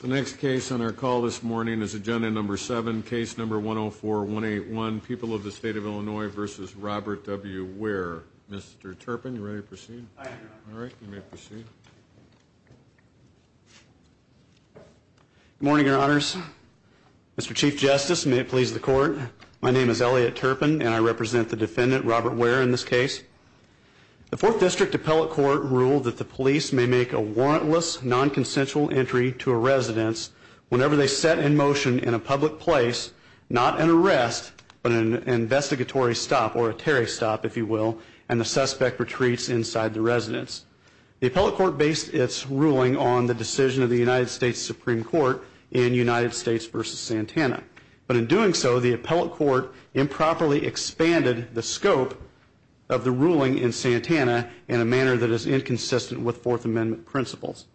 The next case on our call this morning is agenda number seven, case number 104-181, People of the State of Illinois v. Robert W. Wear. Mr. Turpin, you ready to proceed? I am, Your Honor. All right, you may proceed. Good morning, Your Honors. Mr. Chief Justice, may it please the Court, my name is Elliot Turpin and I represent the defendant, Robert Wear, in this case. The Fourth District Appellate Court ruled that the police may make a warrantless, non-consensual entry to a residence whenever they set in motion in a public place, not an arrest, but an investigatory stop, or a Terry stop, if you will, and the suspect retreats inside the residence. The Appellate Court based its ruling on the decision of the United States Supreme Court in United States v. Santana. But in doing so, the Appellate Court improperly expanded the scope of the ruling in Santana in a manner that is inconsistent with Fourth Amendment principles.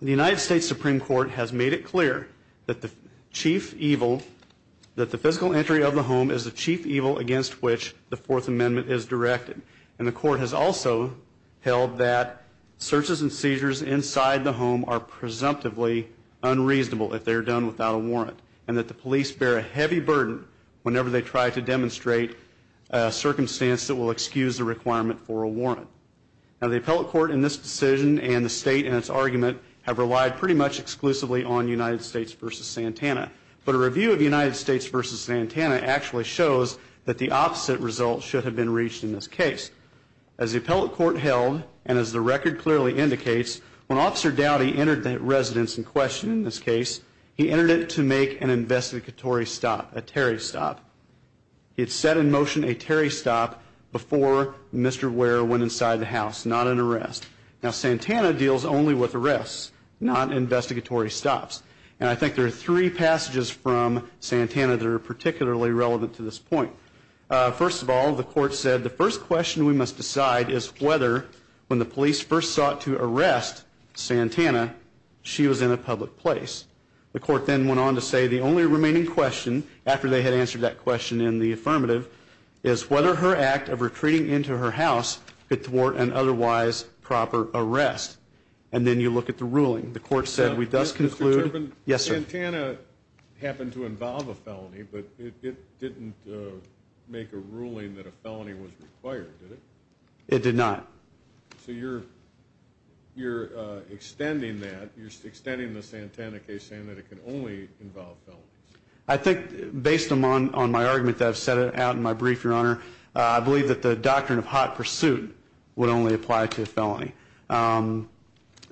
The United States Supreme Court has made it clear that the chief evil, that the physical entry of the home is the chief evil against which the Fourth Amendment is directed. And the Court has also held that searches and seizures inside the home are presumptively unreasonable if they are done without a warrant, and that the police bear a heavy burden whenever they try to demonstrate a circumstance that will excuse the requirement for a warrant. Now, the Appellate Court in this decision and the State in its argument have relied pretty much exclusively on United States v. Santana. But a review of United States v. Santana actually shows that the opposite result should have been reached in this case. As the Appellate Court held, and as the record clearly indicates, when Officer Dowdy entered the residence in question in this case, he entered it to make an investigatory stop, a Terry stop. He had set in motion a Terry stop before Mr. Ware went inside the house, not an arrest. Now, Santana deals only with arrests, not investigatory stops. And I think there are three passages from Santana that are particularly relevant to this point. First of all, the Court said the first question we must decide is whether, when the police first sought to arrest Santana, she was in a public place. The Court then went on to say the only remaining question, after they had answered that question in the affirmative, is whether her act of retreating into her house could thwart an otherwise proper arrest. And then you look at the ruling. The Court said we thus conclude. Now, Mr. Turpin, Santana happened to involve a felony, but it didn't make a ruling that a felony was required, did it? It did not. So you're extending that. You're extending the Santana case, saying that it can only involve felonies. I think, based on my argument that I've set out in my brief, Your Honor, I believe that the doctrine of hot pursuit would only apply to a felony.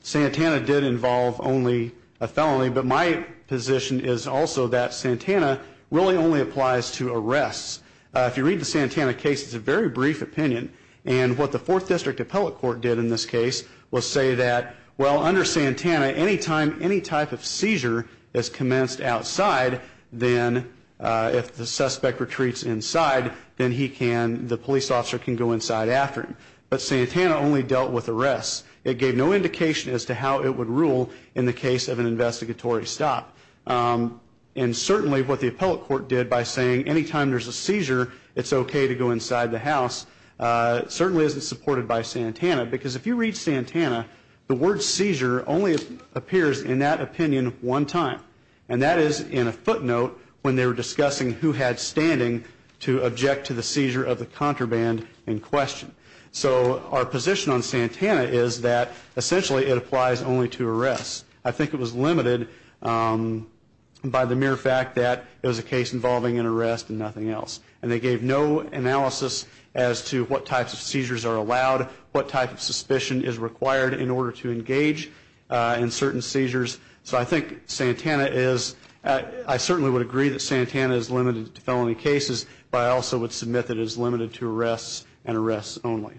Santana did involve only a felony, but my position is also that Santana really only applies to arrests. If you read the Santana case, it's a very brief opinion. And what the Fourth District Appellate Court did in this case was say that, well, under Santana, any time any type of seizure is commenced outside, then if the suspect retreats inside, then he can, the police officer can go inside after him. But Santana only dealt with arrests. It gave no indication as to how it would rule in the case of an investigatory stop. And certainly what the Appellate Court did by saying any time there's a seizure, it's okay to go inside the house, certainly isn't supported by Santana. Because if you read Santana, the word seizure only appears in that opinion one time. And that is in a footnote when they were discussing who had standing to object to the seizure of the contraband in question. So our position on Santana is that essentially it applies only to arrests. I think it was limited by the mere fact that it was a case involving an arrest and nothing else. And they gave no analysis as to what types of seizures are allowed, what type of suspicion is required in order to engage in certain seizures. So I think Santana is, I certainly would agree that Santana is limited to felony cases, but I also would submit that it is limited to arrests and arrests only.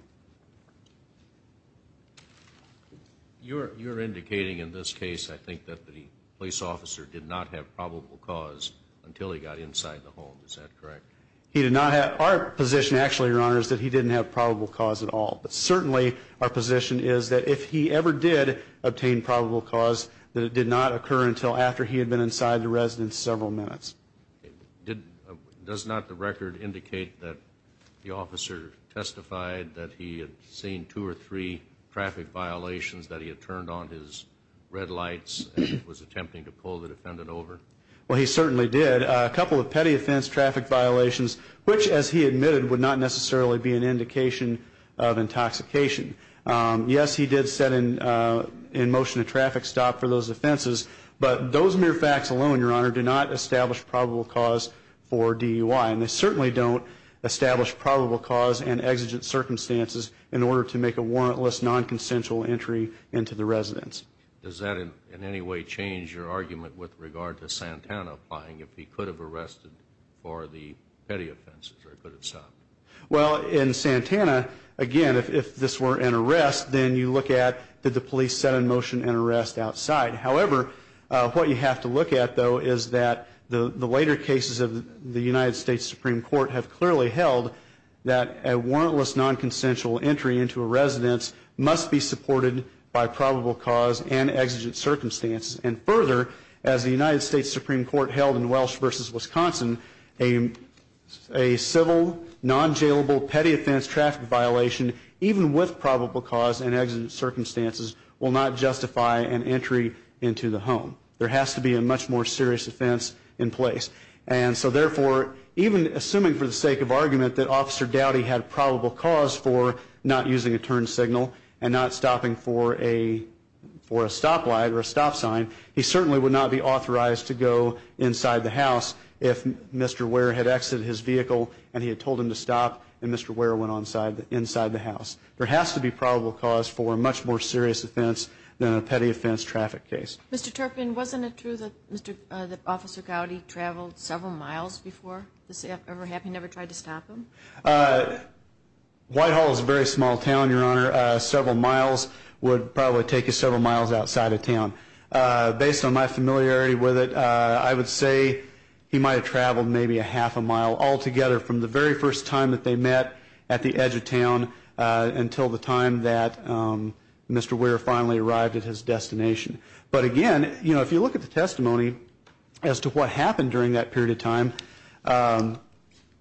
You're indicating in this case, I think, that the police officer did not have probable cause until he got inside the home. Is that correct? He did not have, our position actually, Your Honor, is that he didn't have probable cause at all. But certainly our position is that if he ever did obtain probable cause, that it did not occur until after he had been inside the residence several minutes. Does not the record indicate that the officer testified that he had seen two or three traffic violations, that he had turned on his red lights and was attempting to pull the defendant over? Well, he certainly did. A couple of petty offense traffic violations, which, as he admitted, would not necessarily be an indication of intoxication. Yes, he did set in motion a traffic stop for those offenses, but those mere facts alone, Your Honor, do not establish probable cause for DUI. And they certainly don't establish probable cause and exigent circumstances in order to make a warrantless, non-consensual entry into the residence. Does that in any way change your argument with regard to Santana applying? If he could have arrested for the petty offenses or could have stopped? Well, in Santana, again, if this were an arrest, then you look at did the police set in motion an arrest outside. However, what you have to look at, though, is that the later cases of the United States Supreme Court have clearly held that a warrantless, non-consensual entry into a residence must be supported by probable cause and exigent circumstances. And further, as the United States Supreme Court held in Welsh v. Wisconsin, a civil, non-jailable petty offense traffic violation, even with probable cause and exigent circumstances, will not justify an entry into the home. There has to be a much more serious offense in place. And so, therefore, even assuming for the sake of argument that Officer Dowdy had probable cause for not using a turn signal and not stopping for a stop light or a stop sign, he certainly would not be authorized to go inside the house if Mr. Ware had exited his vehicle and he had told him to stop and Mr. Ware went inside the house. There has to be probable cause for a much more serious offense than a petty offense traffic case. Mr. Turpin, wasn't it true that Officer Dowdy traveled several miles before this ever happened, never tried to stop him? Whitehall is a very small town, Your Honor. Several miles would probably take you several miles outside of town. Based on my familiarity with it, I would say he might have traveled maybe a half a mile altogether from the very first time that they met at the edge of town until the time that Mr. Ware finally arrived at his destination. But again, you know, if you look at the testimony as to what happened during that period of time,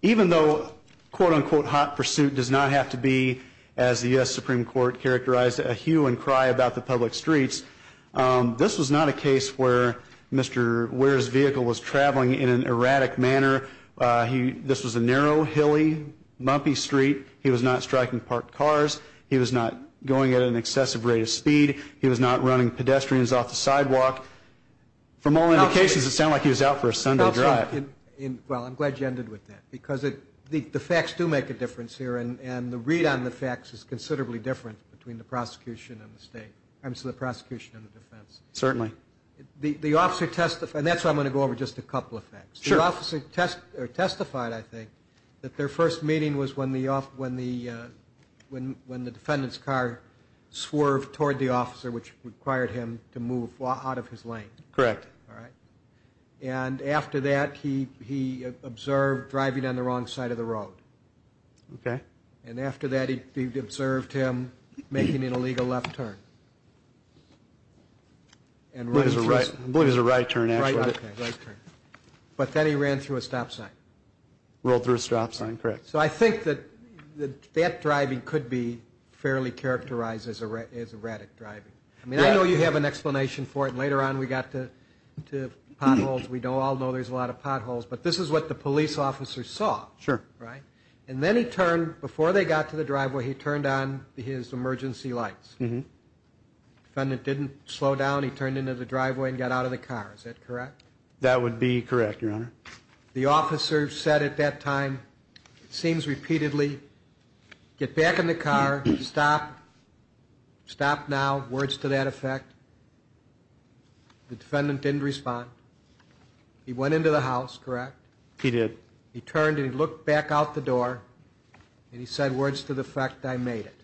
even though quote-unquote hot pursuit does not have to be, as the U.S. Supreme Court characterized, a hue and cry about the public streets, this was not a case where Mr. Ware's vehicle was traveling in an erratic manner. This was a narrow, hilly, bumpy street. He was not striking parked cars. He was not going at an excessive rate of speed. He was not running pedestrians off the sidewalk. From all indications, it sounded like he was out for a Sunday drive. Well, I'm glad you ended with that because the facts do make a difference here, and the read on the facts is considerably different between the prosecution and the defense. Certainly. The officer testified, and that's why I'm going to go over just a couple of facts. Sure. The officer testified, I think, that their first meeting was when the defendant's car swerved toward the officer, which required him to move out of his lane. Correct. All right. And after that, he observed driving on the wrong side of the road. Okay. And after that, he observed him making an illegal left turn. I believe it was a right turn, actually. Right turn. But then he ran through a stop sign. Rolled through a stop sign, correct. So I think that that driving could be fairly characterized as erratic driving. I mean, I know you have an explanation for it, and later on we got to potholes. We all know there's a lot of potholes, but this is what the police officer saw. Sure. Right? And then he turned, before they got to the driveway, he turned on his emergency lights. The defendant didn't slow down. He turned into the driveway and got out of the car. Is that correct? That would be correct, Your Honor. The officer said at that time, it seems repeatedly, get back in the car, stop, stop now. Words to that effect. The defendant didn't respond. He went into the house, correct? He did. He turned and he looked back out the door, and he said words to the effect, I made it.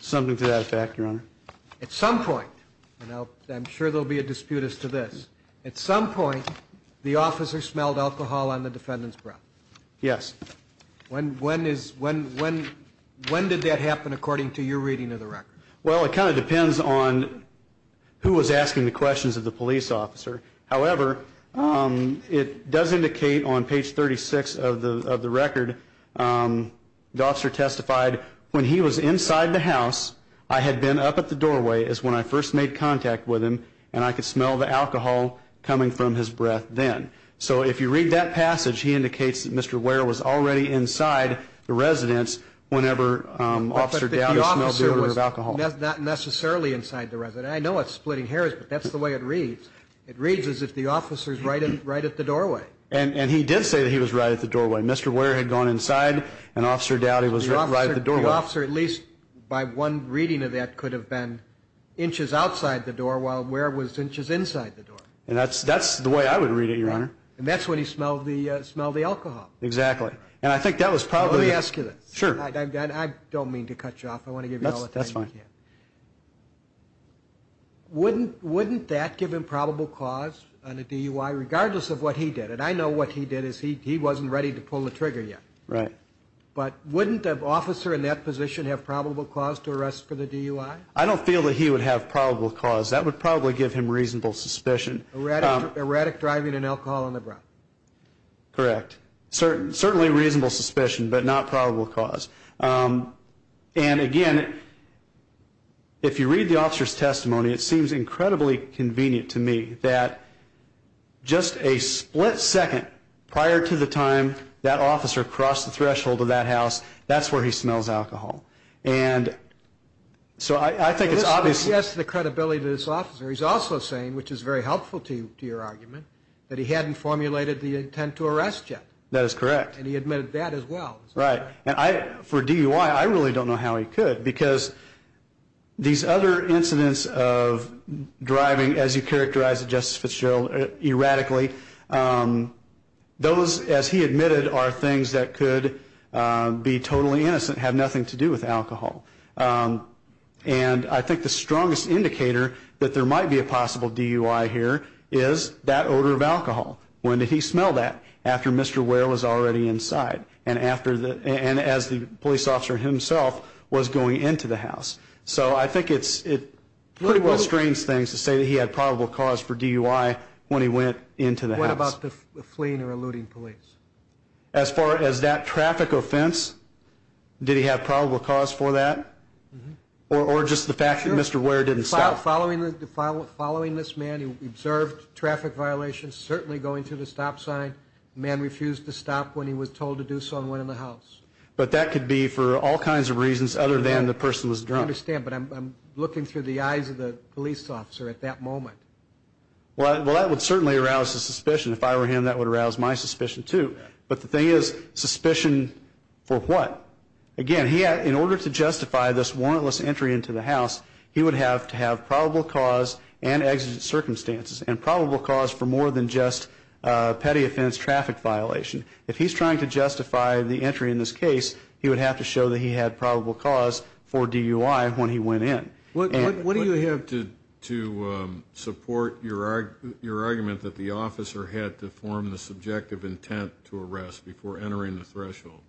Something to that effect, Your Honor. At some point, and I'm sure there will be a dispute as to this, at some point the officer smelled alcohol on the defendant's breath. Yes. When did that happen according to your reading of the record? Well, it kind of depends on who was asking the questions of the police officer. However, it does indicate on page 36 of the record, the officer testified, when he was inside the house, I had been up at the doorway is when I first made contact with him, and I could smell the alcohol coming from his breath then. So if you read that passage, he indicates that Mr. Ware was already inside the residence whenever Officer Dowdy smelled the odor of alcohol. Not necessarily inside the residence. I know it's splitting hairs, but that's the way it reads. It reads as if the officer is right at the doorway. And he did say that he was right at the doorway. Mr. Ware had gone inside, and Officer Dowdy was right at the doorway. So the officer, at least by one reading of that, could have been inches outside the door while Ware was inches inside the door. And that's the way I would read it, Your Honor. And that's when he smelled the alcohol. And I think that was probably— Let me ask you this. Sure. I don't mean to cut you off. I want to give you all the time you can. That's fine. Wouldn't that give him probable cause on a DUI regardless of what he did? And I know what he did is he wasn't ready to pull the trigger yet. Right. But wouldn't an officer in that position have probable cause to arrest for the DUI? I don't feel that he would have probable cause. That would probably give him reasonable suspicion. Erratic driving and alcohol on the ground. Correct. Certainly reasonable suspicion, but not probable cause. And again, if you read the officer's testimony, it seems incredibly convenient to me that just a split second prior to the time that officer crossed the threshold of that house, that's where he smells alcohol. And so I think it's obvious— He has the credibility of this officer. He's also saying, which is very helpful to your argument, that he hadn't formulated the intent to arrest yet. That is correct. And he admitted that as well. Right. And for DUI, I really don't know how he could because these other incidents of driving, as you characterized it, Justice Fitzgerald, erratically, those, as he admitted, are things that could be totally innocent, have nothing to do with alcohol. And I think the strongest indicator that there might be a possible DUI here is that odor of alcohol. When did he smell that? After Mr. Ware was already inside. And as the police officer himself was going into the house. So I think it pretty well strains things to say that he had probable cause for DUI when he went into the house. What about the fleeing or eluding police? As far as that traffic offense, did he have probable cause for that? Or just the fact that Mr. Ware didn't stop? Following this man, he observed traffic violations, certainly going to the stop sign. The man refused to stop when he was told to do so and went in the house. But that could be for all kinds of reasons other than the person was drunk. I understand, but I'm looking through the eyes of the police officer at that moment. Well, that would certainly arouse his suspicion. If I were him, that would arouse my suspicion too. But the thing is, suspicion for what? Again, in order to justify this warrantless entry into the house, he would have to have probable cause and exigent circumstances. And probable cause for more than just petty offense traffic violation. If he's trying to justify the entry in this case, he would have to show that he had probable cause for DUI when he went in. What do you have to support your argument that the officer had to form the subjective intent to arrest before entering the threshold?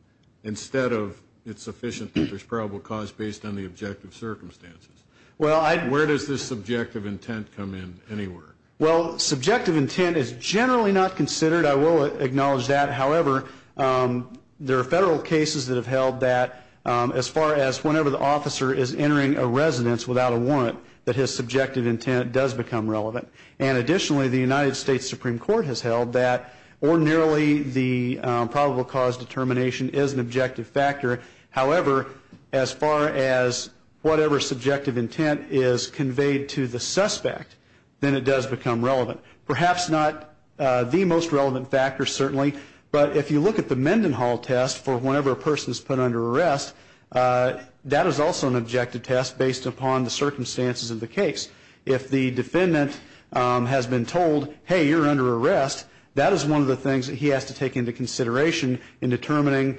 Instead of it's sufficient that there's probable cause based on the objective circumstances. Where does this subjective intent come in anywhere? Well, subjective intent is generally not considered. I will acknowledge that. However, there are federal cases that have held that as far as whenever the officer is entering a residence without a warrant, that his subjective intent does become relevant. And additionally, the United States Supreme Court has held that ordinarily the probable cause determination is an objective factor. However, as far as whatever subjective intent is conveyed to the suspect, then it does become relevant. Perhaps not the most relevant factor, certainly, but if you look at the Mendenhall test for whenever a person is put under arrest, that is also an objective test based upon the circumstances of the case. If the defendant has been told, hey, you're under arrest, that is one of the things that he has to take into consideration in determining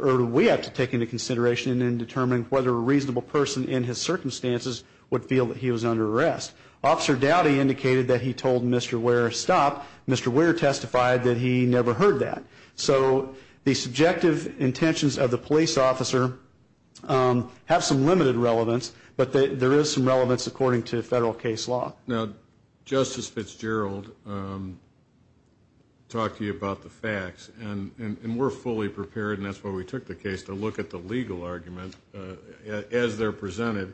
or we have to take into consideration in determining whether a reasonable person in his circumstances would feel that he was under arrest. Officer Dowdy indicated that he told Mr. Weir to stop. Mr. Weir testified that he never heard that. So the subjective intentions of the police officer have some limited relevance, but there is some relevance according to federal case law. Now, Justice Fitzgerald talked to you about the facts, and we're fully prepared, and that's why we took the case, to look at the legal argument as they're presented.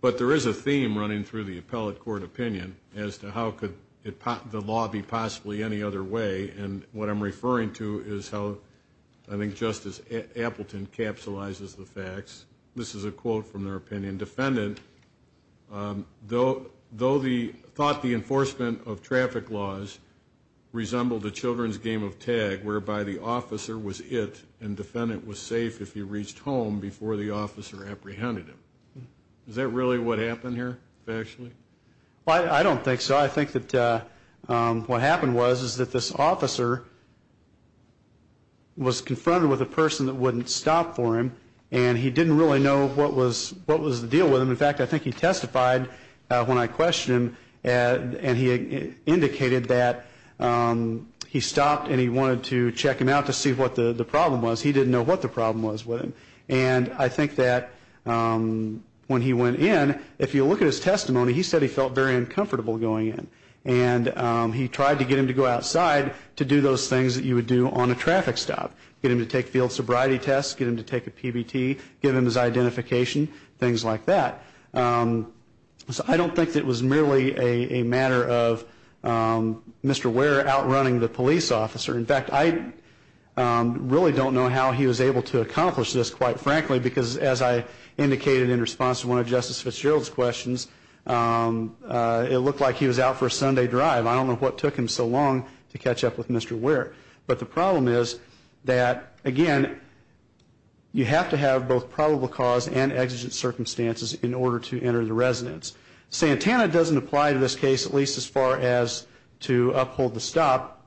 But there is a theme running through the appellate court opinion as to how could the law be possibly any other way, and what I'm referring to is how I think Justice Appleton capsulizes the facts. This is a quote from their opinion. The defendant thought the enforcement of traffic laws resembled a children's game of tag, whereby the officer was it and defendant was safe if he reached home before the officer apprehended him. Is that really what happened here factually? I don't think so. I think that what happened was that this officer was confronted with a person that wouldn't stop for him, and he didn't really know what was the deal with him. In fact, I think he testified when I questioned him, and he indicated that he stopped and he wanted to check him out to see what the problem was. He didn't know what the problem was with him. And I think that when he went in, if you look at his testimony, he said he felt very uncomfortable going in, and he tried to get him to go outside to do those things that you would do on a traffic stop, get him to take field sobriety tests, get him to take a PBT, give him his identification, things like that. So I don't think it was merely a matter of Mr. Ware outrunning the police officer. In fact, I really don't know how he was able to accomplish this, quite frankly, because as I indicated in response to one of Justice Fitzgerald's questions, it looked like he was out for a Sunday drive. I don't know what took him so long to catch up with Mr. Ware. But the problem is that, again, you have to have both probable cause and exigent circumstances in order to enter the residence. Santana doesn't apply to this case, at least as far as to uphold the stop,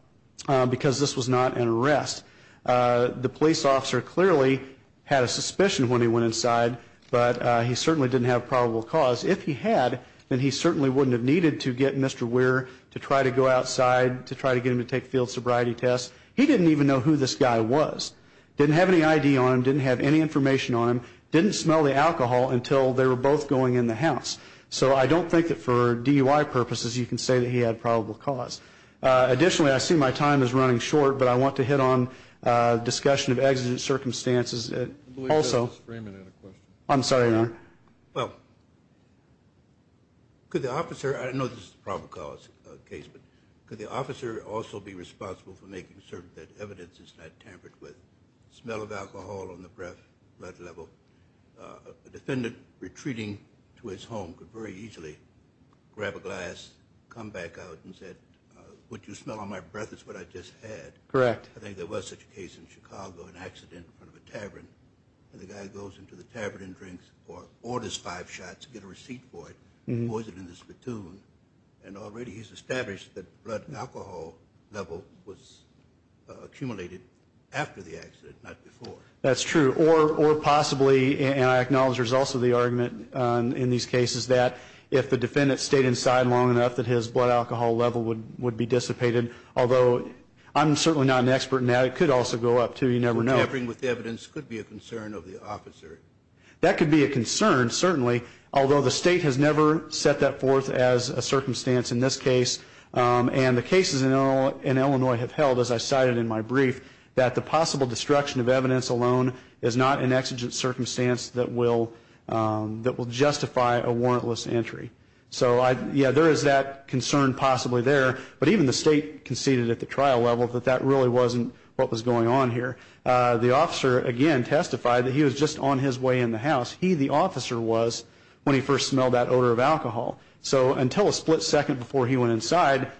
because this was not an arrest. The police officer clearly had a suspicion when he went inside, but he certainly didn't have probable cause. If he had, then he certainly wouldn't have needed to get Mr. Ware to try to go outside to try to get him to take field sobriety tests. He didn't even know who this guy was, didn't have any ID on him, didn't have any information on him, didn't smell the alcohol until they were both going in the house. So I don't think that for DUI purposes you can say that he had probable cause. Additionally, I see my time is running short, but I want to hit on discussion of exigent circumstances. I believe Justice Freeman had a question. I'm sorry, Your Honor. Well, could the officer, I know this is a probable cause case, but could the officer also be responsible for making certain that evidence is not tampered with, smell of alcohol on the breath, blood level? A defendant retreating to his home could very easily grab a glass, come back out and say, what you smell on my breath is what I just had. Correct. I think there was such a case in Chicago, an accident in front of a tavern, and the guy goes into the tavern and drinks or orders five shots to get a receipt for it, and he pours it in this platoon, and already he's established that blood alcohol level was accumulated after the accident, not before. That's true. Or possibly, and I acknowledge there's also the argument in these cases, that if the defendant stayed inside long enough that his blood alcohol level would be dissipated, although I'm certainly not an expert in that. It could also go up, too. You never know. But tampering with evidence could be a concern of the officer. That could be a concern, certainly, although the state has never set that forth as a circumstance in this case, and the cases in Illinois have held, as I cited in my brief, that the possible destruction of evidence alone is not an exigent circumstance that will justify a warrantless entry. So, yeah, there is that concern possibly there, but even the state conceded at the trial level that that really wasn't what was going on here. The officer, again, testified that he was just on his way in the house. He, the officer, was when he first smelled that odor of alcohol. So until a split second before he went inside,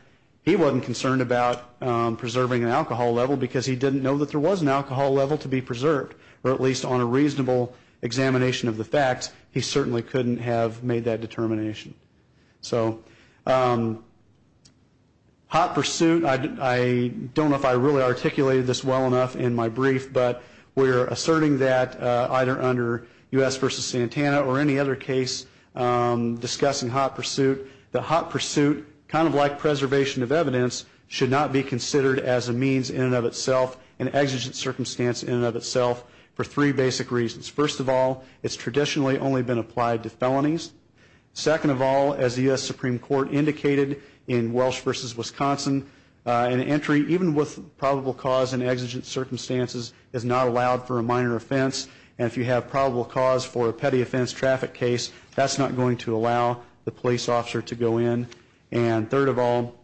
he wasn't concerned about preserving an alcohol level because he didn't know that there was an alcohol level to be preserved, or at least on a reasonable examination of the facts, he certainly couldn't have made that determination. So, hot pursuit, I don't know if I really articulated this well enough in my brief, but we're asserting that either under U.S. v. Santana or any other case discussing hot pursuit, that hot pursuit, kind of like preservation of evidence, should not be considered as a means in and of itself, an exigent circumstance in and of itself, for three basic reasons. First of all, it's traditionally only been applied to felonies. Second of all, as the U.S. Supreme Court indicated in Welsh v. Wisconsin, an entry, even with probable cause and exigent circumstances, is not allowed for a minor offense, and if you have probable cause for a petty offense traffic case, that's not going to allow the police officer to go in. And third of all,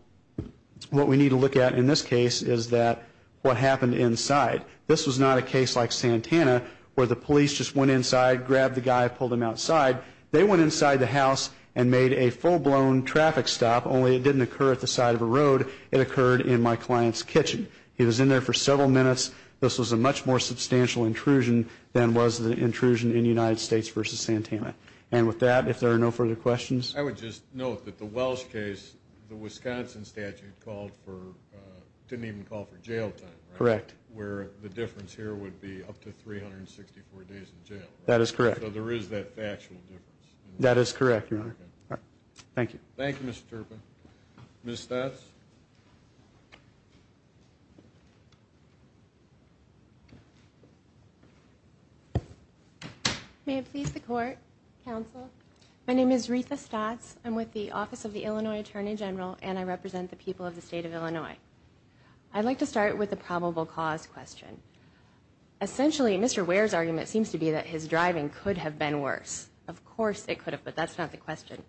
what we need to look at in this case is that what happened inside. This was not a case like Santana, where the police just went inside, grabbed the guy, pulled him outside. They went inside the house and made a full-blown traffic stop, only it didn't occur at the side of a road. It occurred in my client's kitchen. He was in there for several minutes. This was a much more substantial intrusion than was the intrusion in United States v. Santana. And with that, if there are no further questions. I would just note that the Welsh case, the Wisconsin statute called for – didn't even call for jail time, right? Correct. Where the difference here would be up to 364 days in jail, right? That is correct. So there is that factual difference. That is correct, Your Honor. Thank you. Thank you, Mr. Turpin. Ms. Stotz? May it please the Court, Counsel. My name is Ritha Stotz. I'm with the Office of the Illinois Attorney General, and I represent the people of the state of Illinois. I'd like to start with the probable cause question. Essentially, Mr. Ware's argument seems to be that his driving could have been worse. Of course it could have, but that's not the question.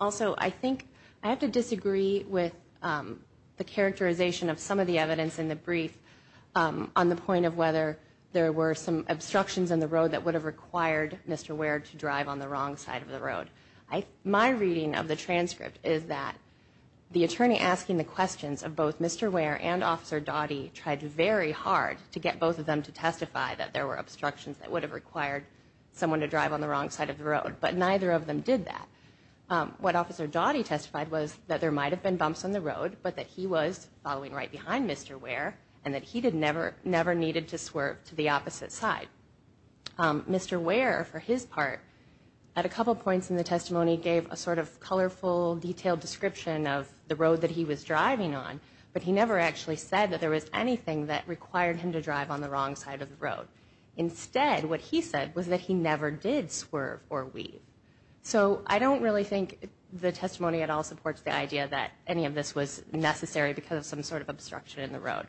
Also, I think I have to disagree with the characterization of some of the evidence in the brief on the point of whether there were some obstructions in the road that would have required Mr. Ware to drive on the wrong side of the road. My reading of the transcript is that the attorney asking the questions of both Mr. Ware and Officer Doughty tried very hard to get both of them to testify that there were obstructions that would have required someone to drive on the wrong side of the road, but neither of them did that. What Officer Doughty testified was that there might have been bumps on the road, but that he was following right behind Mr. Ware and that he never needed to swerve to the opposite side. Mr. Ware, for his part, at a couple points in the testimony, gave a sort of colorful, detailed description of the road that he was driving on, but he never actually said that there was anything that required him to drive on the wrong side of the road. Instead, what he said was that he never did swerve or weave. So I don't really think the testimony at all supports the idea that any of this was necessary because of some sort of obstruction in the road.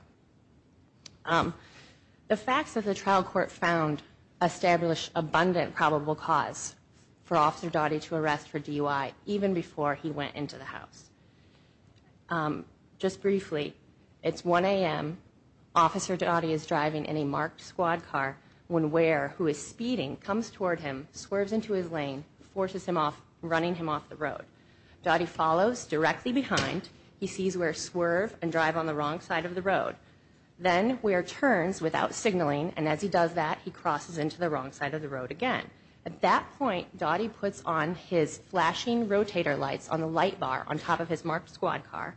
The facts of the trial court found established abundant probable cause for Officer Doughty to arrest for DUI even before he went into the house. Just briefly, it's 1 a.m., Officer Doughty is driving in a marked squad car when Ware, who is speeding, comes toward him, swerves into his lane, forces him off, running him off the road. Doughty follows directly behind. He sees Ware swerve and drive on the wrong side of the road. Then Ware turns without signaling, and as he does that, he crosses into the wrong side of the road again. At that point, Doughty puts on his flashing rotator lights on the light bar on top of his marked squad car,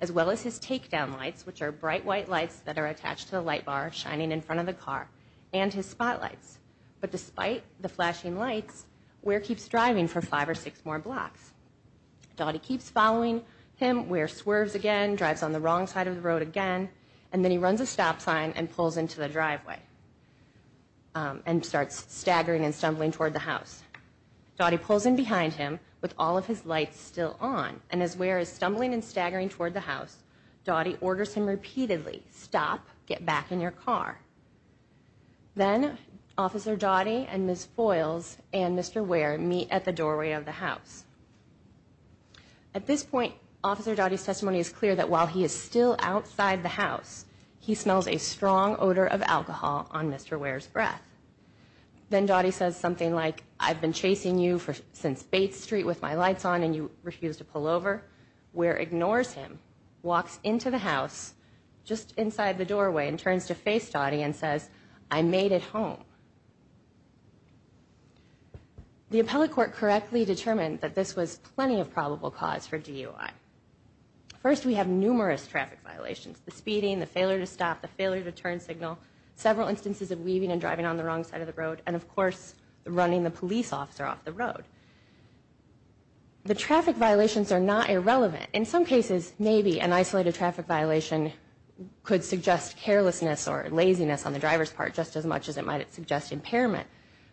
as well as his takedown lights, which are bright white lights that are attached to the light bar shining in front of the car, and his spotlights. But despite the flashing lights, Ware keeps driving for five or six more blocks. Doughty keeps following him. Ware swerves again, drives on the wrong side of the road again, and then he runs a stop sign and pulls into the driveway and starts staggering and stumbling toward the house. Doughty pulls in behind him with all of his lights still on, and as Ware is stumbling and staggering toward the house, Doughty orders him repeatedly, Stop. Get back in your car. Then Officer Doughty and Ms. Foyles and Mr. Ware meet at the doorway of the house. At this point, Officer Doughty's testimony is clear that while he is still outside the house, he smells a strong odor of alcohol on Mr. Ware's breath. Then Doughty says something like, I've been chasing you since Bates Street with my lights on and you refuse to pull over. Ware ignores him, walks into the house, just inside the doorway, and turns to face Doughty and says, I made it home. The appellate court correctly determined that this was plenty of probable cause for DUI. First, we have numerous traffic violations. The speeding, the failure to stop, the failure to turn signal, several instances of weaving and driving on the wrong side of the road, and, of course, running the police officer off the road. The traffic violations are not irrelevant. In some cases, maybe an isolated traffic violation could suggest carelessness or laziness on the driver's part just as much as it might suggest impairment.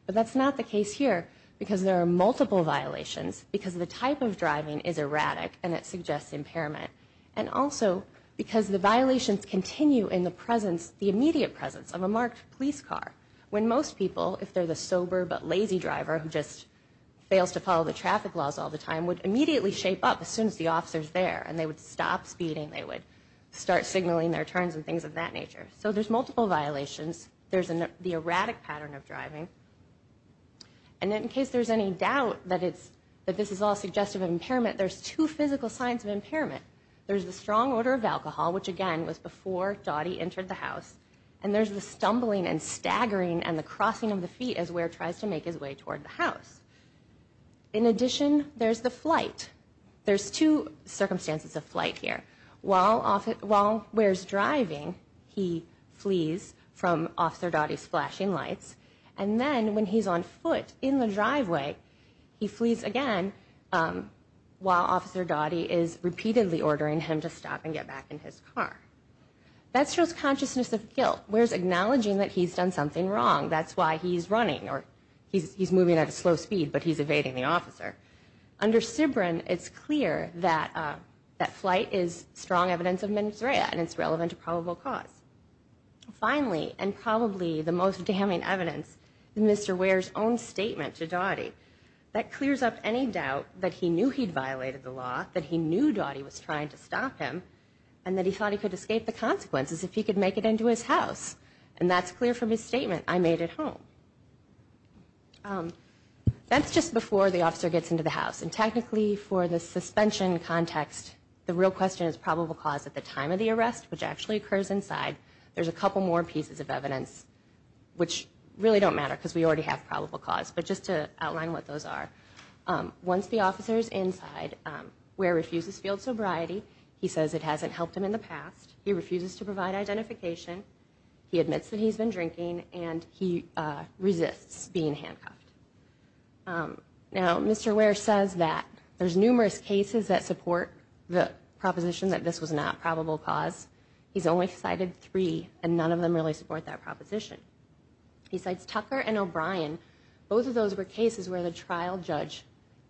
But that's not the case here because there are multiple violations because the type of driving is erratic and it suggests impairment. And also because the violations continue in the immediate presence of a marked police car when most people, if they're the sober but lazy driver who just fails to follow the traffic laws all the time, would immediately shape up as soon as the officer's there. And they would stop speeding. They would start signaling their turns and things of that nature. So there's multiple violations. There's the erratic pattern of driving. And in case there's any doubt that this is all suggestive of impairment, there's two physical signs of impairment. There's the strong odor of alcohol, which, again, was before Dottie entered the house. And there's the stumbling and staggering and the crossing of the feet as Ware tries to make his way toward the house. In addition, there's the flight. There's two circumstances of flight here. While Ware's driving, he flees from Officer Dottie's flashing lights. And then when he's on foot in the driveway, he flees again while Officer Dottie is repeatedly ordering him to stop and get back in his car. That shows consciousness of guilt. Ware's acknowledging that he's done something wrong. That's why he's running or he's moving at a slow speed, but he's evading the officer. Under Sibren, it's clear that that flight is strong evidence of minuserea and it's relevant to probable cause. Finally, and probably the most damning evidence, is Mr. Ware's own statement to Dottie that clears up any doubt that he knew he'd violated the law, that he knew Dottie was trying to stop him, and that he thought he could escape the consequences if he could make it into his house. And that's clear from his statement, I made it home. That's just before the officer gets into the house. And technically, for the suspension context, the real question is probable cause at the time of the arrest, which actually occurs inside. There's a couple more pieces of evidence, which really don't matter because we already have probable cause, but just to outline what those are. Once the officer is inside, Ware refuses field sobriety. He says it hasn't helped him in the past. He refuses to provide identification. He admits that he's been drinking and he resists being handcuffed. Now, Mr. Ware says that there's numerous cases that support the proposition that this was not probable cause. He's only cited three, and none of them really support that proposition. He cites Tucker and O'Brien. Both of those were cases where the trial judge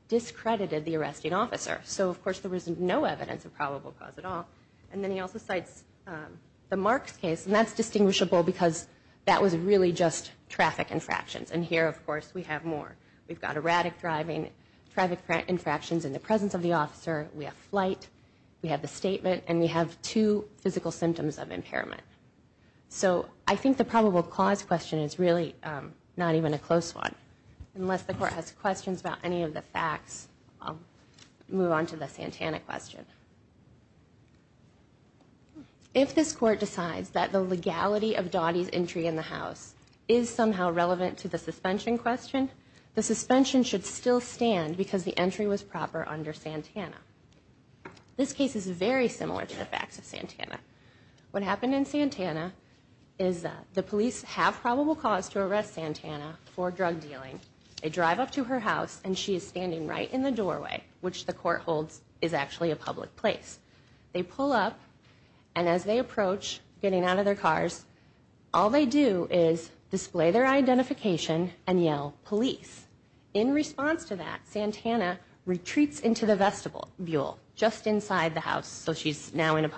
discredited the arresting officer. So, of course, there was no evidence of probable cause at all. And then he also cites the Marks case, and that's distinguishable because that was really just traffic infractions. And here, of course, we have more. We've got erratic driving, traffic infractions in the presence of the officer. We have flight. We have the statement. And we have two physical symptoms of impairment. So I think the probable cause question is really not even a close one. Unless the court has questions about any of the facts, I'll move on to the Santana question. If the probable cause is somehow relevant to the suspension question, the suspension should still stand because the entry was proper under Santana. This case is very similar to the facts of Santana. What happened in Santana is the police have probable cause to arrest Santana for drug dealing. They drive up to her house, and she is standing right in the doorway, which the court holds is actually a public place. They pull up, and as they approach getting out of their cars, all they do is display their identification and yell, police. In response to that, Santana retreats into the vestibule just inside the house, so she's now in a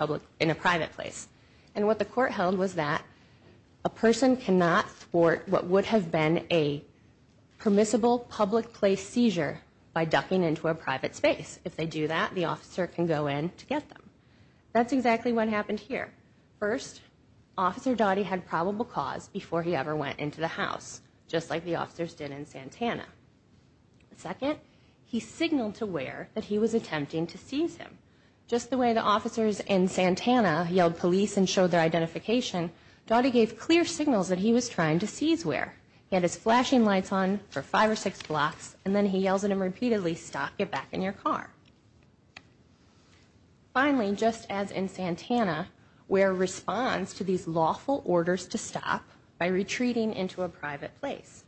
private place. And what the court held was that a person cannot thwart what would have been a permissible public place seizure by ducking into a private space. If they do that, the officer can go in to get them. That's exactly what happened here. First, Officer Dottie had probable cause before he ever went into the house, just like the officers did in Santana. Second, he signaled to Ware that he was attempting to seize him. Just the way the officers in Santana yelled police and showed their identification, Dottie gave clear signals that he was trying to seize Ware. He had his flashing lights on for five or six blocks, and then he yells at him repeatedly, stop, get back in your car. Finally, just as in Santana, Ware responds to these lawful orders to stop by retreating into a private place.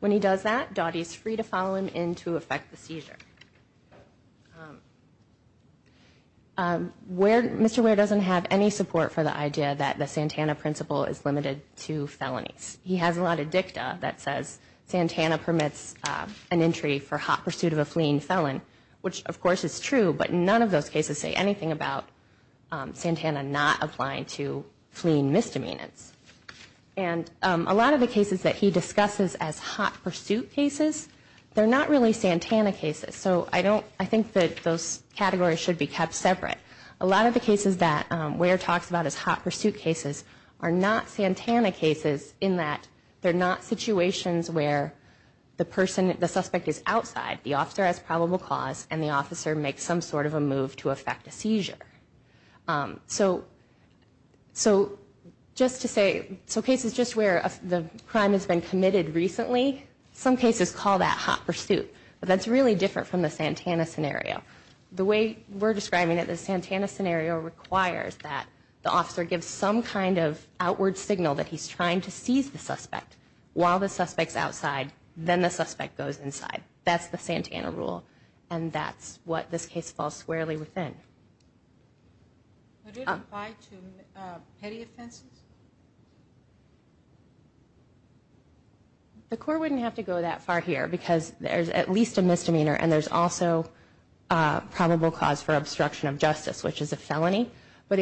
When he does that, Dottie is free to follow him in to effect the seizure. Mr. Ware doesn't have any support for the idea that the Santana principle is limited to felonies. He has a lot of dicta that says Santana permits an entry for hot pursuit of a fleeing felon, which of course is true, but none of those cases say anything about Santana not applying to fleeing misdemeanors. And a lot of the cases that he discusses as hot pursuit cases, they're not really Santana cases. So I think that those categories should be kept separate. A lot of the cases that Ware talks about as hot pursuit cases are not Santana cases in that they're not situations where the person, the suspect is outside, the officer has probable cause, and the officer makes some sort of a move to effect a seizure. So just to say, so cases just where the crime has been committed recently, some cases call that hot pursuit. But that's really different from the Santana scenario. The way we're describing it, the Santana scenario requires that the officer gives some kind of outward signal that he's trying to seize the suspect while the suspect's outside, then the suspect goes inside. That's the Santana rule, and that's what this case falls squarely within. Would it apply to petty offenses? The court wouldn't have to go that far here because there's at least a misdemeanor and there's also probable cause for obstruction of justice, which is a felony. But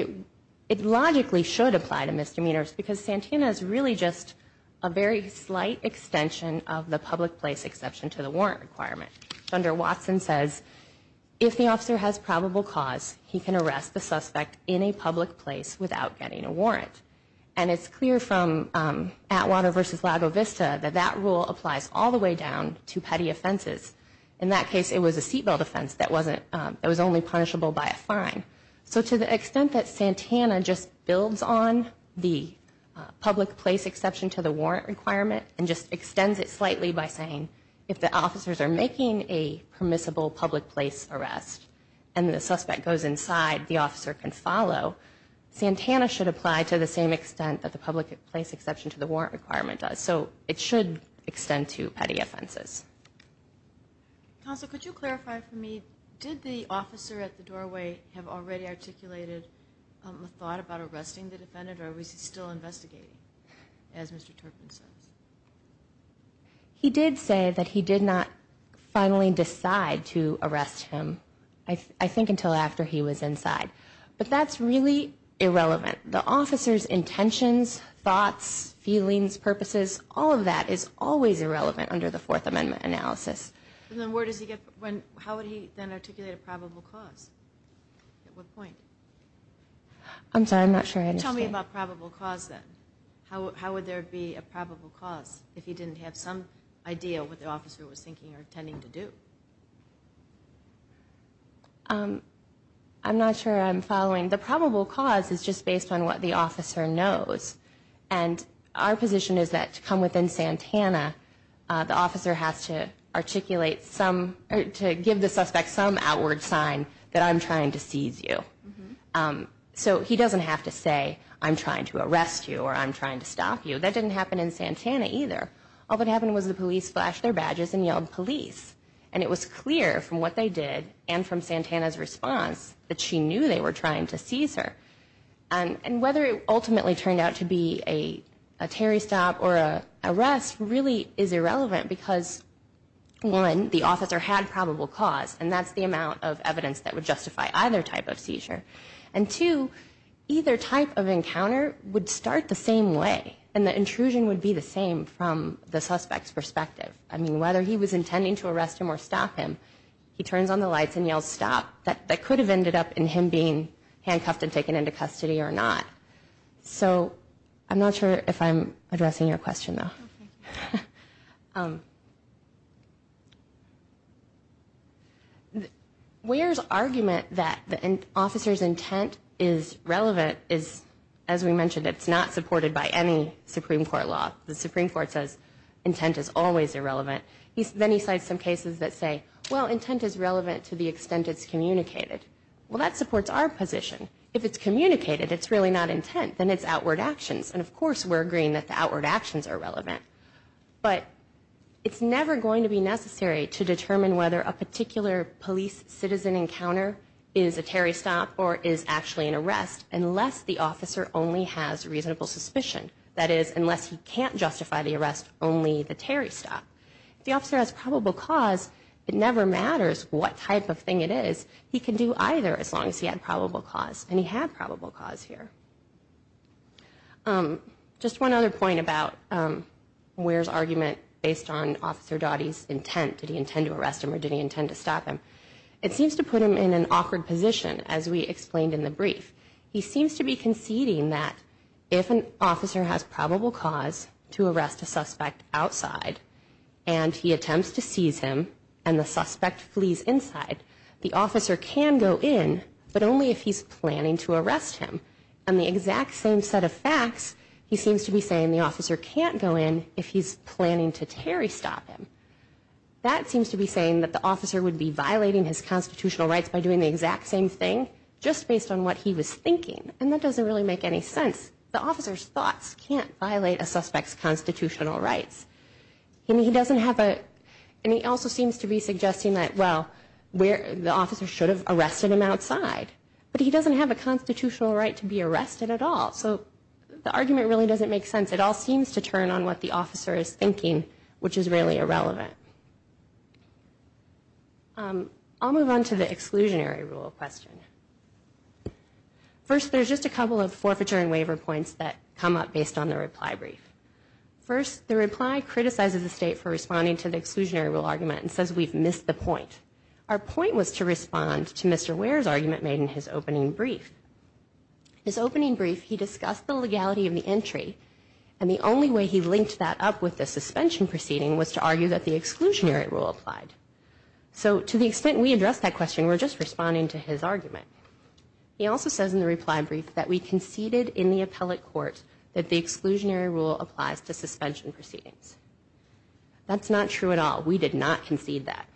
it logically should apply to misdemeanors because Santana is really just a very slight extension of the public place exception to the warrant requirement. Thunder Watson says, if the officer has probable cause, he can arrest the suspect in a public place without getting a warrant. And it's clear from Atwater v. Lago Vista that that rule applies all the way down to petty offenses. In that case, it was a seat belt offense that was only punishable by a fine. So to the extent that Santana just builds on the public place exception to the warrant requirement and just extends it slightly by saying, if the officers are making a permissible public place arrest and the suspect goes inside, the officer can follow, Santana should apply to the same extent that the public place exception to the warrant requirement does. So it should extend to petty offenses. Counsel, could you clarify for me, did the officer at the doorway have already articulated a thought about arresting the defendant or is he still investigating, as Mr. Turpin says? He did say that he did not finally decide to arrest him, I think, until after he was inside. But that's really irrelevant. The officer's intentions, thoughts, feelings, purposes, all of that is always in the Fourth Amendment analysis. Then how would he then articulate a probable cause? At what point? I'm sorry, I'm not sure I understand. Tell me about probable cause then. How would there be a probable cause if he didn't have some idea of what the officer was thinking or intending to do? I'm not sure I'm following. The probable cause is just based on what the officer knows. And our position is that to come within Santana, the officer has to articulate some or to give the suspect some outward sign that I'm trying to seize you. So he doesn't have to say I'm trying to arrest you or I'm trying to stop you. That didn't happen in Santana either. All that happened was the police flashed their badges and yelled police. And it was clear from what they did and from Santana's response that she knew they were trying to seize her. And whether it ultimately turned out to be a Terry stop or an arrest really is irrelevant because, one, the officer had probable cause, and that's the amount of evidence that would justify either type of seizure. And, two, either type of encounter would start the same way, and the intrusion would be the same from the suspect's perspective. I mean, whether he was intending to arrest him or stop him, he turns on the lights and yells stop. That could have ended up in him being handcuffed and taken into custody or not. So I'm not sure if I'm addressing your question, though. Weir's argument that the officer's intent is relevant is, as we mentioned, it's not supported by any Supreme Court law. The Supreme Court says intent is always irrelevant. Then he cites some cases that say, well, intent is relevant to the extent it's communicated. Well, that supports our position. If it's communicated, it's really not intent, then it's outward actions. And, of course, we're agreeing that the outward actions are relevant. But it's never going to be necessary to determine whether a particular police citizen encounter is a Terry stop or is actually an arrest unless the officer only has reasonable suspicion. That is, unless he can't justify the arrest, only the Terry stop. If the officer has probable cause, it never matters what type of thing it is. He can do either as long as he had probable cause. And he had probable cause here. Just one other point about Weir's argument based on Officer Doughty's intent. Did he intend to arrest him or did he intend to stop him? It seems to put him in an awkward position, as we explained in the brief. He seems to be conceding that if an officer has probable cause to arrest a suspect and he attempts to seize him and the suspect flees inside, the officer can go in, but only if he's planning to arrest him. And the exact same set of facts, he seems to be saying the officer can't go in if he's planning to Terry stop him. That seems to be saying that the officer would be violating his constitutional rights by doing the exact same thing just based on what he was thinking. And that doesn't really make any sense. The officer's thoughts can't violate a suspect's constitutional rights. And he doesn't have a, and he also seems to be suggesting that, well, the officer should have arrested him outside. But he doesn't have a constitutional right to be arrested at all. So the argument really doesn't make sense. It all seems to turn on what the officer is thinking, which is really irrelevant. I'll move on to the exclusionary rule question. First, there's just a couple of forfeiture and waiver points that come up based on the reply brief. First, the reply criticizes the state for responding to the exclusionary rule argument and says we've missed the point. Our point was to respond to Mr. Ware's argument made in his opening brief. His opening brief, he discussed the legality of the entry, and the only way he linked that up with the suspension proceeding was to argue that the exclusionary rule applied. So to the extent we address that question, we're just responding to his argument. He also says in the reply brief that we conceded in the appellate court that the exclusionary rule applies to suspension proceedings. That's not true at all. We did not concede that.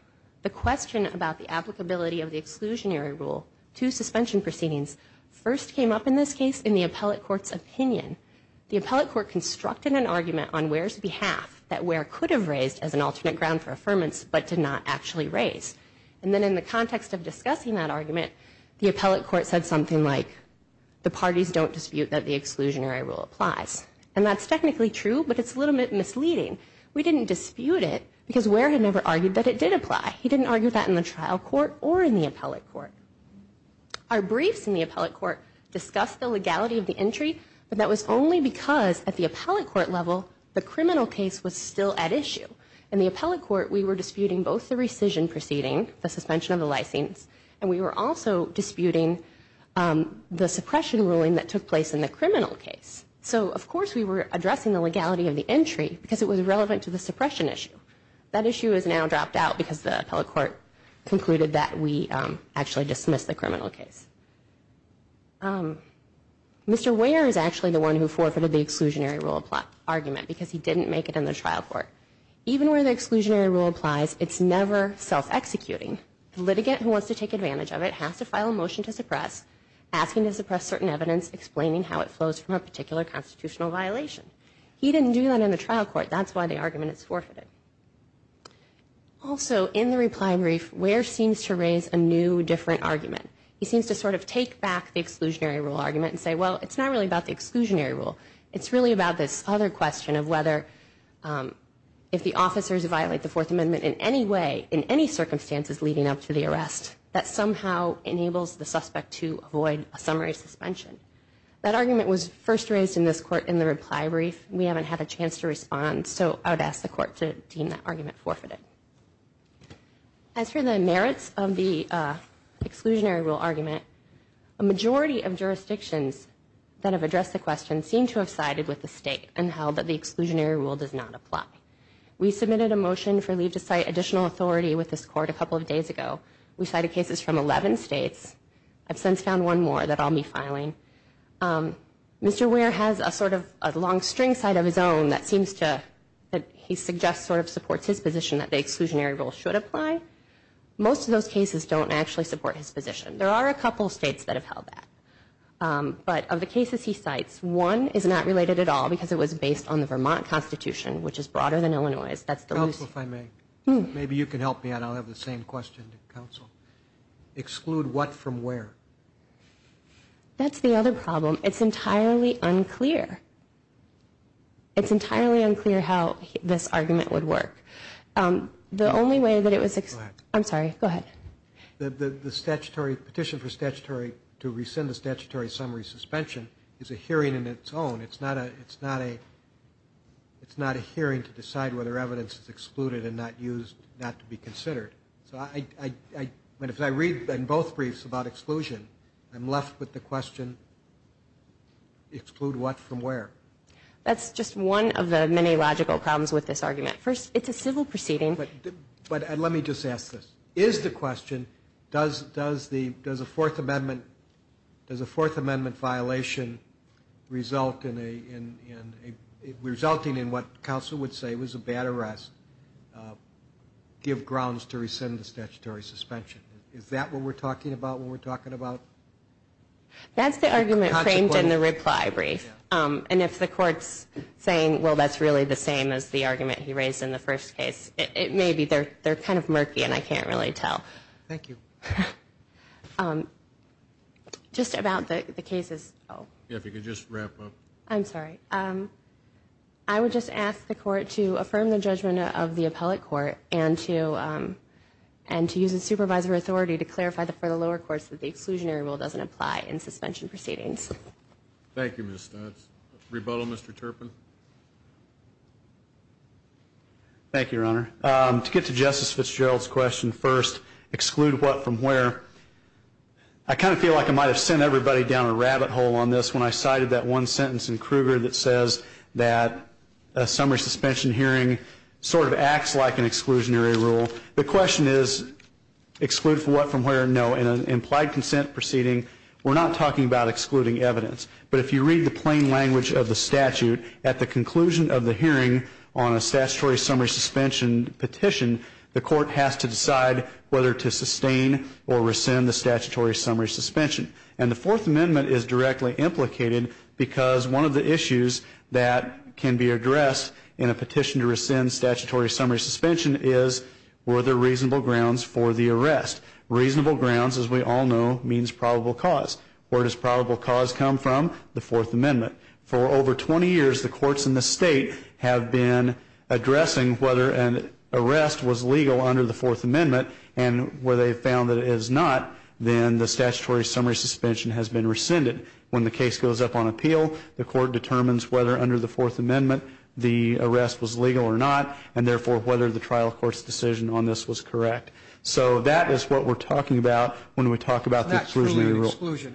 The question about the applicability of the exclusionary rule to suspension proceedings first came up in this case in the appellate court's opinion. The appellate court constructed an argument on Ware's behalf that Ware could have raised as an alternate ground for affirmance but did not actually raise. And then in the context of discussing that argument, the appellate court said something like, the parties don't dispute that the exclusionary rule applies. And that's technically true, but it's a little bit misleading. We didn't dispute it because Ware had never argued that it did apply. He didn't argue that in the trial court or in the appellate court. Our briefs in the appellate court discussed the legality of the entry, but that was only because at the appellate court level, the criminal case was still at issue. In the appellate court, we were disputing both the rescission proceeding, the suspension of the license, and we were also disputing the suppression ruling that took place in the criminal case. So, of course, we were addressing the legality of the entry because it was relevant to the suppression issue. That issue is now dropped out because the appellate court concluded that we actually dismissed the criminal case. Mr. Ware is actually the one who forfeited the exclusionary rule argument because he didn't make it in the trial court. Even where the exclusionary rule applies, it's never self-executing. The litigant who wants to take advantage of it has to file a motion to suppress, asking to suppress certain evidence, explaining how it flows from a particular constitutional violation. He didn't do that in the trial court. That's why the argument is forfeited. Also, in the reply brief, Ware seems to raise a new, different argument. He seems to sort of take back the exclusionary rule argument and say, well, it's not really about the exclusionary rule. It's really about this other question of whether, if the officers violate the Fourth Amendment in any way, that somehow enables the suspect to avoid a summary suspension. That argument was first raised in this court in the reply brief. We haven't had a chance to respond, so I would ask the court to deem that argument forfeited. As for the merits of the exclusionary rule argument, a majority of jurisdictions that have addressed the question seem to have sided with the state and held that the exclusionary rule does not apply. We submitted a motion for leave to cite additional authority with this court a couple of days ago. We cited cases from 11 states. I've since found one more that I'll be filing. Mr. Ware has a sort of a long string side of his own that seems to, that he suggests sort of supports his position that the exclusionary rule should apply. Most of those cases don't actually support his position. There are a couple of states that have held that. But of the cases he cites, one is not related at all because it was based on the Vermont Constitution, which is broader than Illinois'. Counsel, if I may. Maybe you can help me out. I'll have the same question to counsel. Exclude what from where? That's the other problem. It's entirely unclear. It's entirely unclear how this argument would work. The only way that it was... Go ahead. I'm sorry. Go ahead. The statutory petition for statutory, to rescind the statutory summary suspension is a hearing in its own. It's not a hearing to decide whether evidence is excluded and not used not to be considered. So if I read both briefs about exclusion, I'm left with the question, exclude what from where? That's just one of the many logical problems with this argument. First, it's a civil proceeding. But let me just ask this. Is the question, does a Fourth Amendment violation result in a, resulting in what counsel would say was a bad arrest, give grounds to rescind the statutory suspension? Is that what we're talking about when we're talking about? That's the argument framed in the reply brief. And if the court's saying, well, that's really the same as the argument he raised in the first case, it may be they're kind of murky and I can't really tell. Thank you. Just about the cases. If you could just wrap up. I'm sorry. I would just ask the court to affirm the judgment of the appellate court and to use the supervisor authority to clarify for the lower courts that the exclusionary rule doesn't apply in suspension proceedings. Thank you, Ms. Stutz. Rebuttal, Mr. Turpin. Thank you, Your Honor. To get to Justice Fitzgerald's question first, exclude what from where. I kind of feel like I might have sent everybody down a rabbit hole on this when I cited that one sentence in Kruger that says that a summary suspension hearing sort of acts like an exclusionary rule. The question is exclude from what from where? No. In an implied consent proceeding, we're not talking about excluding evidence. But if you read the plain language of the statute, at the conclusion of the hearing on a statutory summary suspension petition, the court has to decide whether to sustain or rescind the statutory summary suspension. And the Fourth Amendment is directly implicated because one of the issues that can be addressed in a petition to rescind statutory summary suspension is were there reasonable grounds for the arrest? Reasonable grounds, as we all know, means probable cause. Where does probable cause come from? The Fourth Amendment. For over 20 years, the courts in this state have been addressing whether an arrest was legal under the Fourth Amendment. And where they've found that it is not, then the statutory summary suspension has been rescinded. When the case goes up on appeal, the court determines whether under the Fourth Amendment the arrest was legal or not, and therefore whether the trial court's decision on this was correct. So that is what we're talking about when we talk about the exclusionary rule. It's not an exclusion.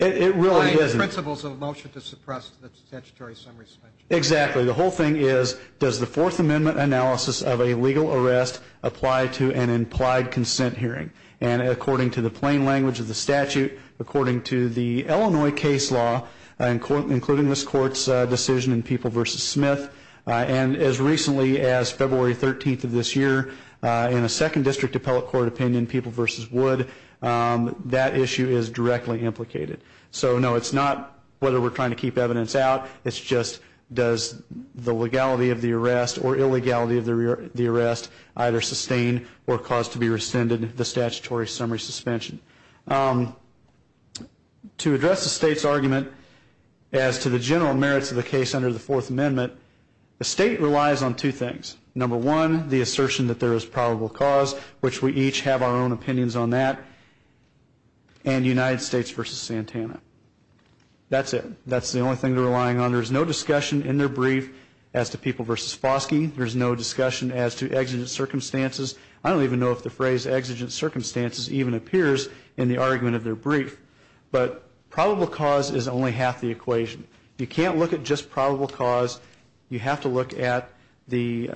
It really isn't. It's just principles of a motion to suppress the statutory summary suspension. Exactly. The whole thing is does the Fourth Amendment analysis of a legal arrest apply to an implied consent hearing? And according to the plain language of the statute, according to the Illinois case law, including this court's decision in People v. Smith, and as recently as February 13th of this year in a second district appellate court opinion, in People v. Wood, that issue is directly implicated. So, no, it's not whether we're trying to keep evidence out. It's just does the legality of the arrest or illegality of the arrest either sustain or cause to be rescinded the statutory summary suspension. To address the state's argument as to the general merits of the case under the Fourth Amendment, the state relies on two things. Number one, the assertion that there is probable cause, which we each have our own opinions on that, and United States v. Santana. That's it. That's the only thing they're relying on. There's no discussion in their brief as to People v. Foskey. There's no discussion as to exigent circumstances. I don't even know if the phrase exigent circumstances even appears in the argument of their brief. But probable cause is only half the equation. You can't look at just probable cause. You have to look at the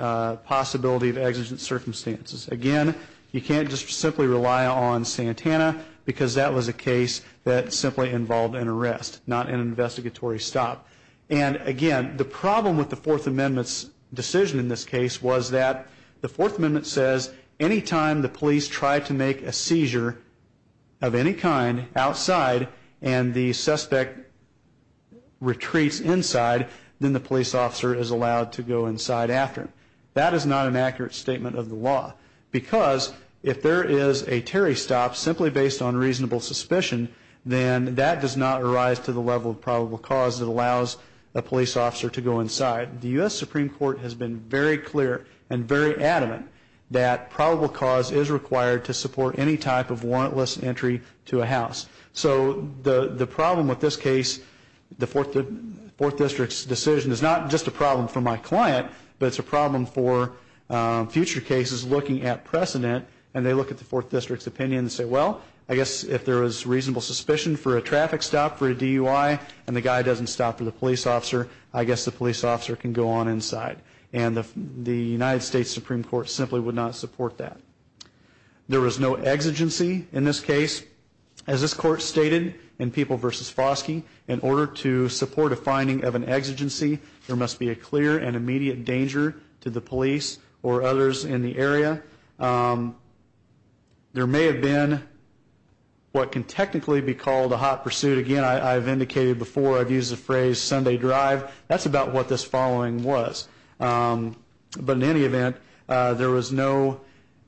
possibility of exigent circumstances. Again, you can't just simply rely on Santana because that was a case that simply involved an arrest, not an investigatory stop. And, again, the problem with the Fourth Amendment's decision in this case was that the Fourth Amendment says any time the police try to make a seizure of any kind outside and the suspect retreats inside, then the police officer is allowed to go inside after him. That is not an accurate statement of the law because if there is a Terry stop simply based on reasonable suspicion, then that does not arise to the level of probable cause that allows a police officer to go inside. The U.S. Supreme Court has been very clear and very adamant that probable cause is required to support any type of warrantless entry to a house. So the problem with this case, the Fourth District's decision, is not just a problem for my client, but it's a problem for future cases looking at precedent. And they look at the Fourth District's opinion and say, well, I guess if there is reasonable suspicion for a traffic stop for a DUI and the guy doesn't stop for the police officer, I guess the police officer can go on inside. And the United States Supreme Court simply would not support that. There was no exigency in this case. As this court stated in People v. Foskey, in order to support a finding of an exigency, there must be a clear and immediate danger to the police or others in the area. There may have been what can technically be called a hot pursuit. Again, I've indicated before, I've used the phrase Sunday drive. That's about what this following was. But in any event, there was no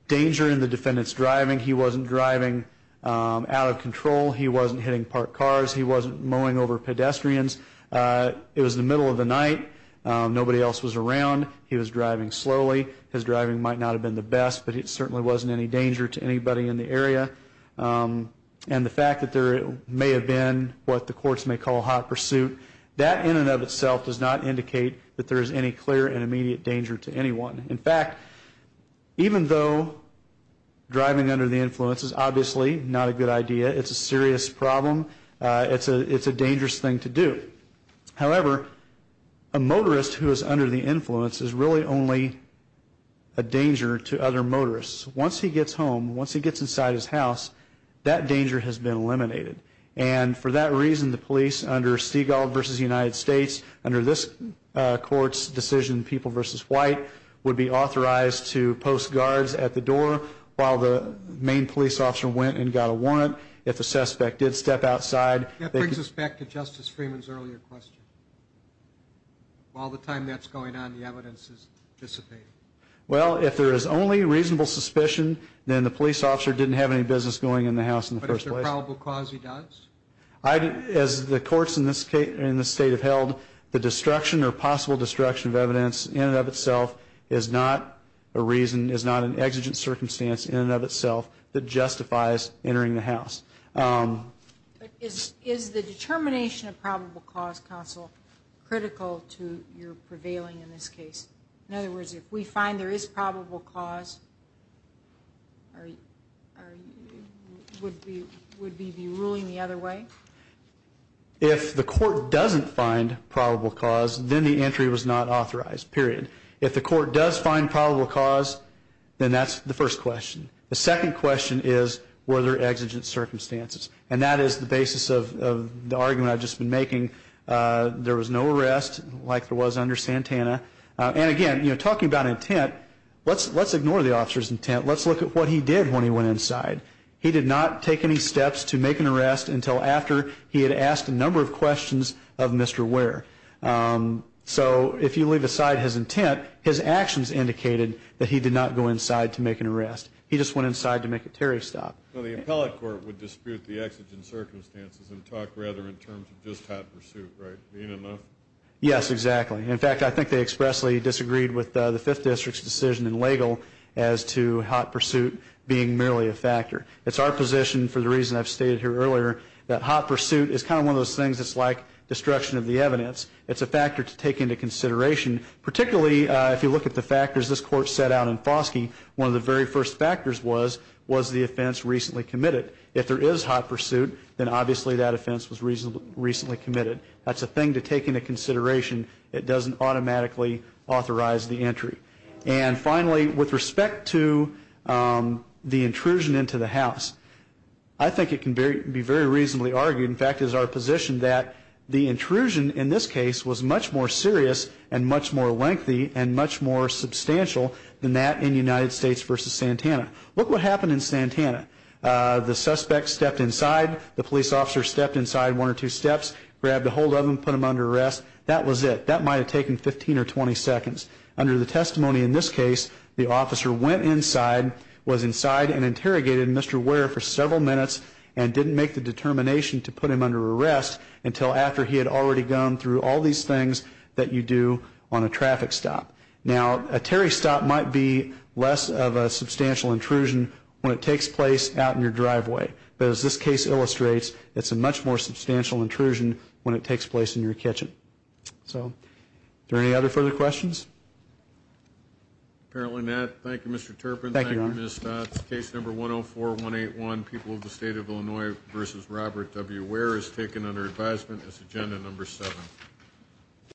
danger in the defendant's driving. He wasn't driving out of control. He wasn't hitting parked cars. He wasn't mowing over pedestrians. It was the middle of the night. Nobody else was around. He was driving slowly. His driving might not have been the best, but it certainly wasn't any danger to anybody in the area. And the fact that there may have been what the courts may call a hot pursuit, that in and of itself does not indicate that there is any clear and immediate danger to anyone. In fact, even though driving under the influence is obviously not a good idea, it's a serious problem, it's a dangerous thing to do. However, a motorist who is under the influence is really only a danger to other motorists. Once he gets home, once he gets inside his house, that danger has been eliminated. And for that reason, the police under Stegall v. United States, under this court's decision, people versus white, would be authorized to post guards at the door while the main police officer went and got a warrant. If the suspect did step outside. That brings us back to Justice Freeman's earlier question. While the time that's going on, the evidence is dissipating. Well, if there is only reasonable suspicion, then the police officer didn't have any business going in the house in the first place. But if there's probable cause, he does? As the courts in this state have held, the destruction or possible destruction of evidence in and of itself is not a reason, is not an exigent circumstance in and of itself that justifies entering the house. Is the determination of probable cause, counsel, critical to your prevailing in this case? In other words, if we find there is probable cause, would we be ruling the other way? If the court doesn't find probable cause, then the entry was not authorized, period. If the court does find probable cause, then that's the first question. The second question is, were there exigent circumstances? And that is the basis of the argument I've just been making. There was no arrest, like there was under Santana. And again, talking about intent, let's ignore the officer's intent. Let's look at what he did when he went inside. He did not take any steps to make an arrest until after he had asked a number of questions of Mr. Ware. So if you leave aside his intent, his actions indicated that he did not go inside to make an arrest. He just went inside to make a tariff stop. Well, the appellate court would dispute the exigent circumstances and talk rather in terms of just hot pursuit, right? Yes, exactly. In fact, I think they expressly disagreed with the 5th District's decision in Lagle as to hot pursuit being merely a factor. It's our position, for the reason I've stated here earlier, that hot pursuit is kind of one of those things that's like destruction of the evidence. It's a factor to take into consideration, particularly if you look at the factors this court set out in Foskey. One of the very first factors was, was the offense recently committed? If there is hot pursuit, then obviously that offense was recently committed. That's a thing to take into consideration. It doesn't automatically authorize the entry. And finally, with respect to the intrusion into the house, I think it can be very reasonably argued, in fact it is our position that the intrusion in this case was much more serious and much more lengthy and much more substantial than that in United States v. Santana. Look what happened in Santana. The suspect stepped inside, the police officer stepped inside one or two steps, grabbed ahold of him, put him under arrest. That was it. That might have taken 15 or 20 seconds. Under the testimony in this case, the officer went inside, was inside and interrogated Mr. Ware for several minutes and didn't make the determination to put him under arrest until after he had already gone through all these things that you do on a traffic stop. Now, a Terry stop might be less of a substantial intrusion when it takes place out in your driveway. But as this case illustrates, it's a much more substantial intrusion when it takes place in your kitchen. So are there any other further questions? Apparently not. Thank you, Mr. Turpin. Thank you, Mr. Stotz. Case number 104181, People of the State of Illinois v. Robert W. Ware, is taken under advisement as agenda number seven.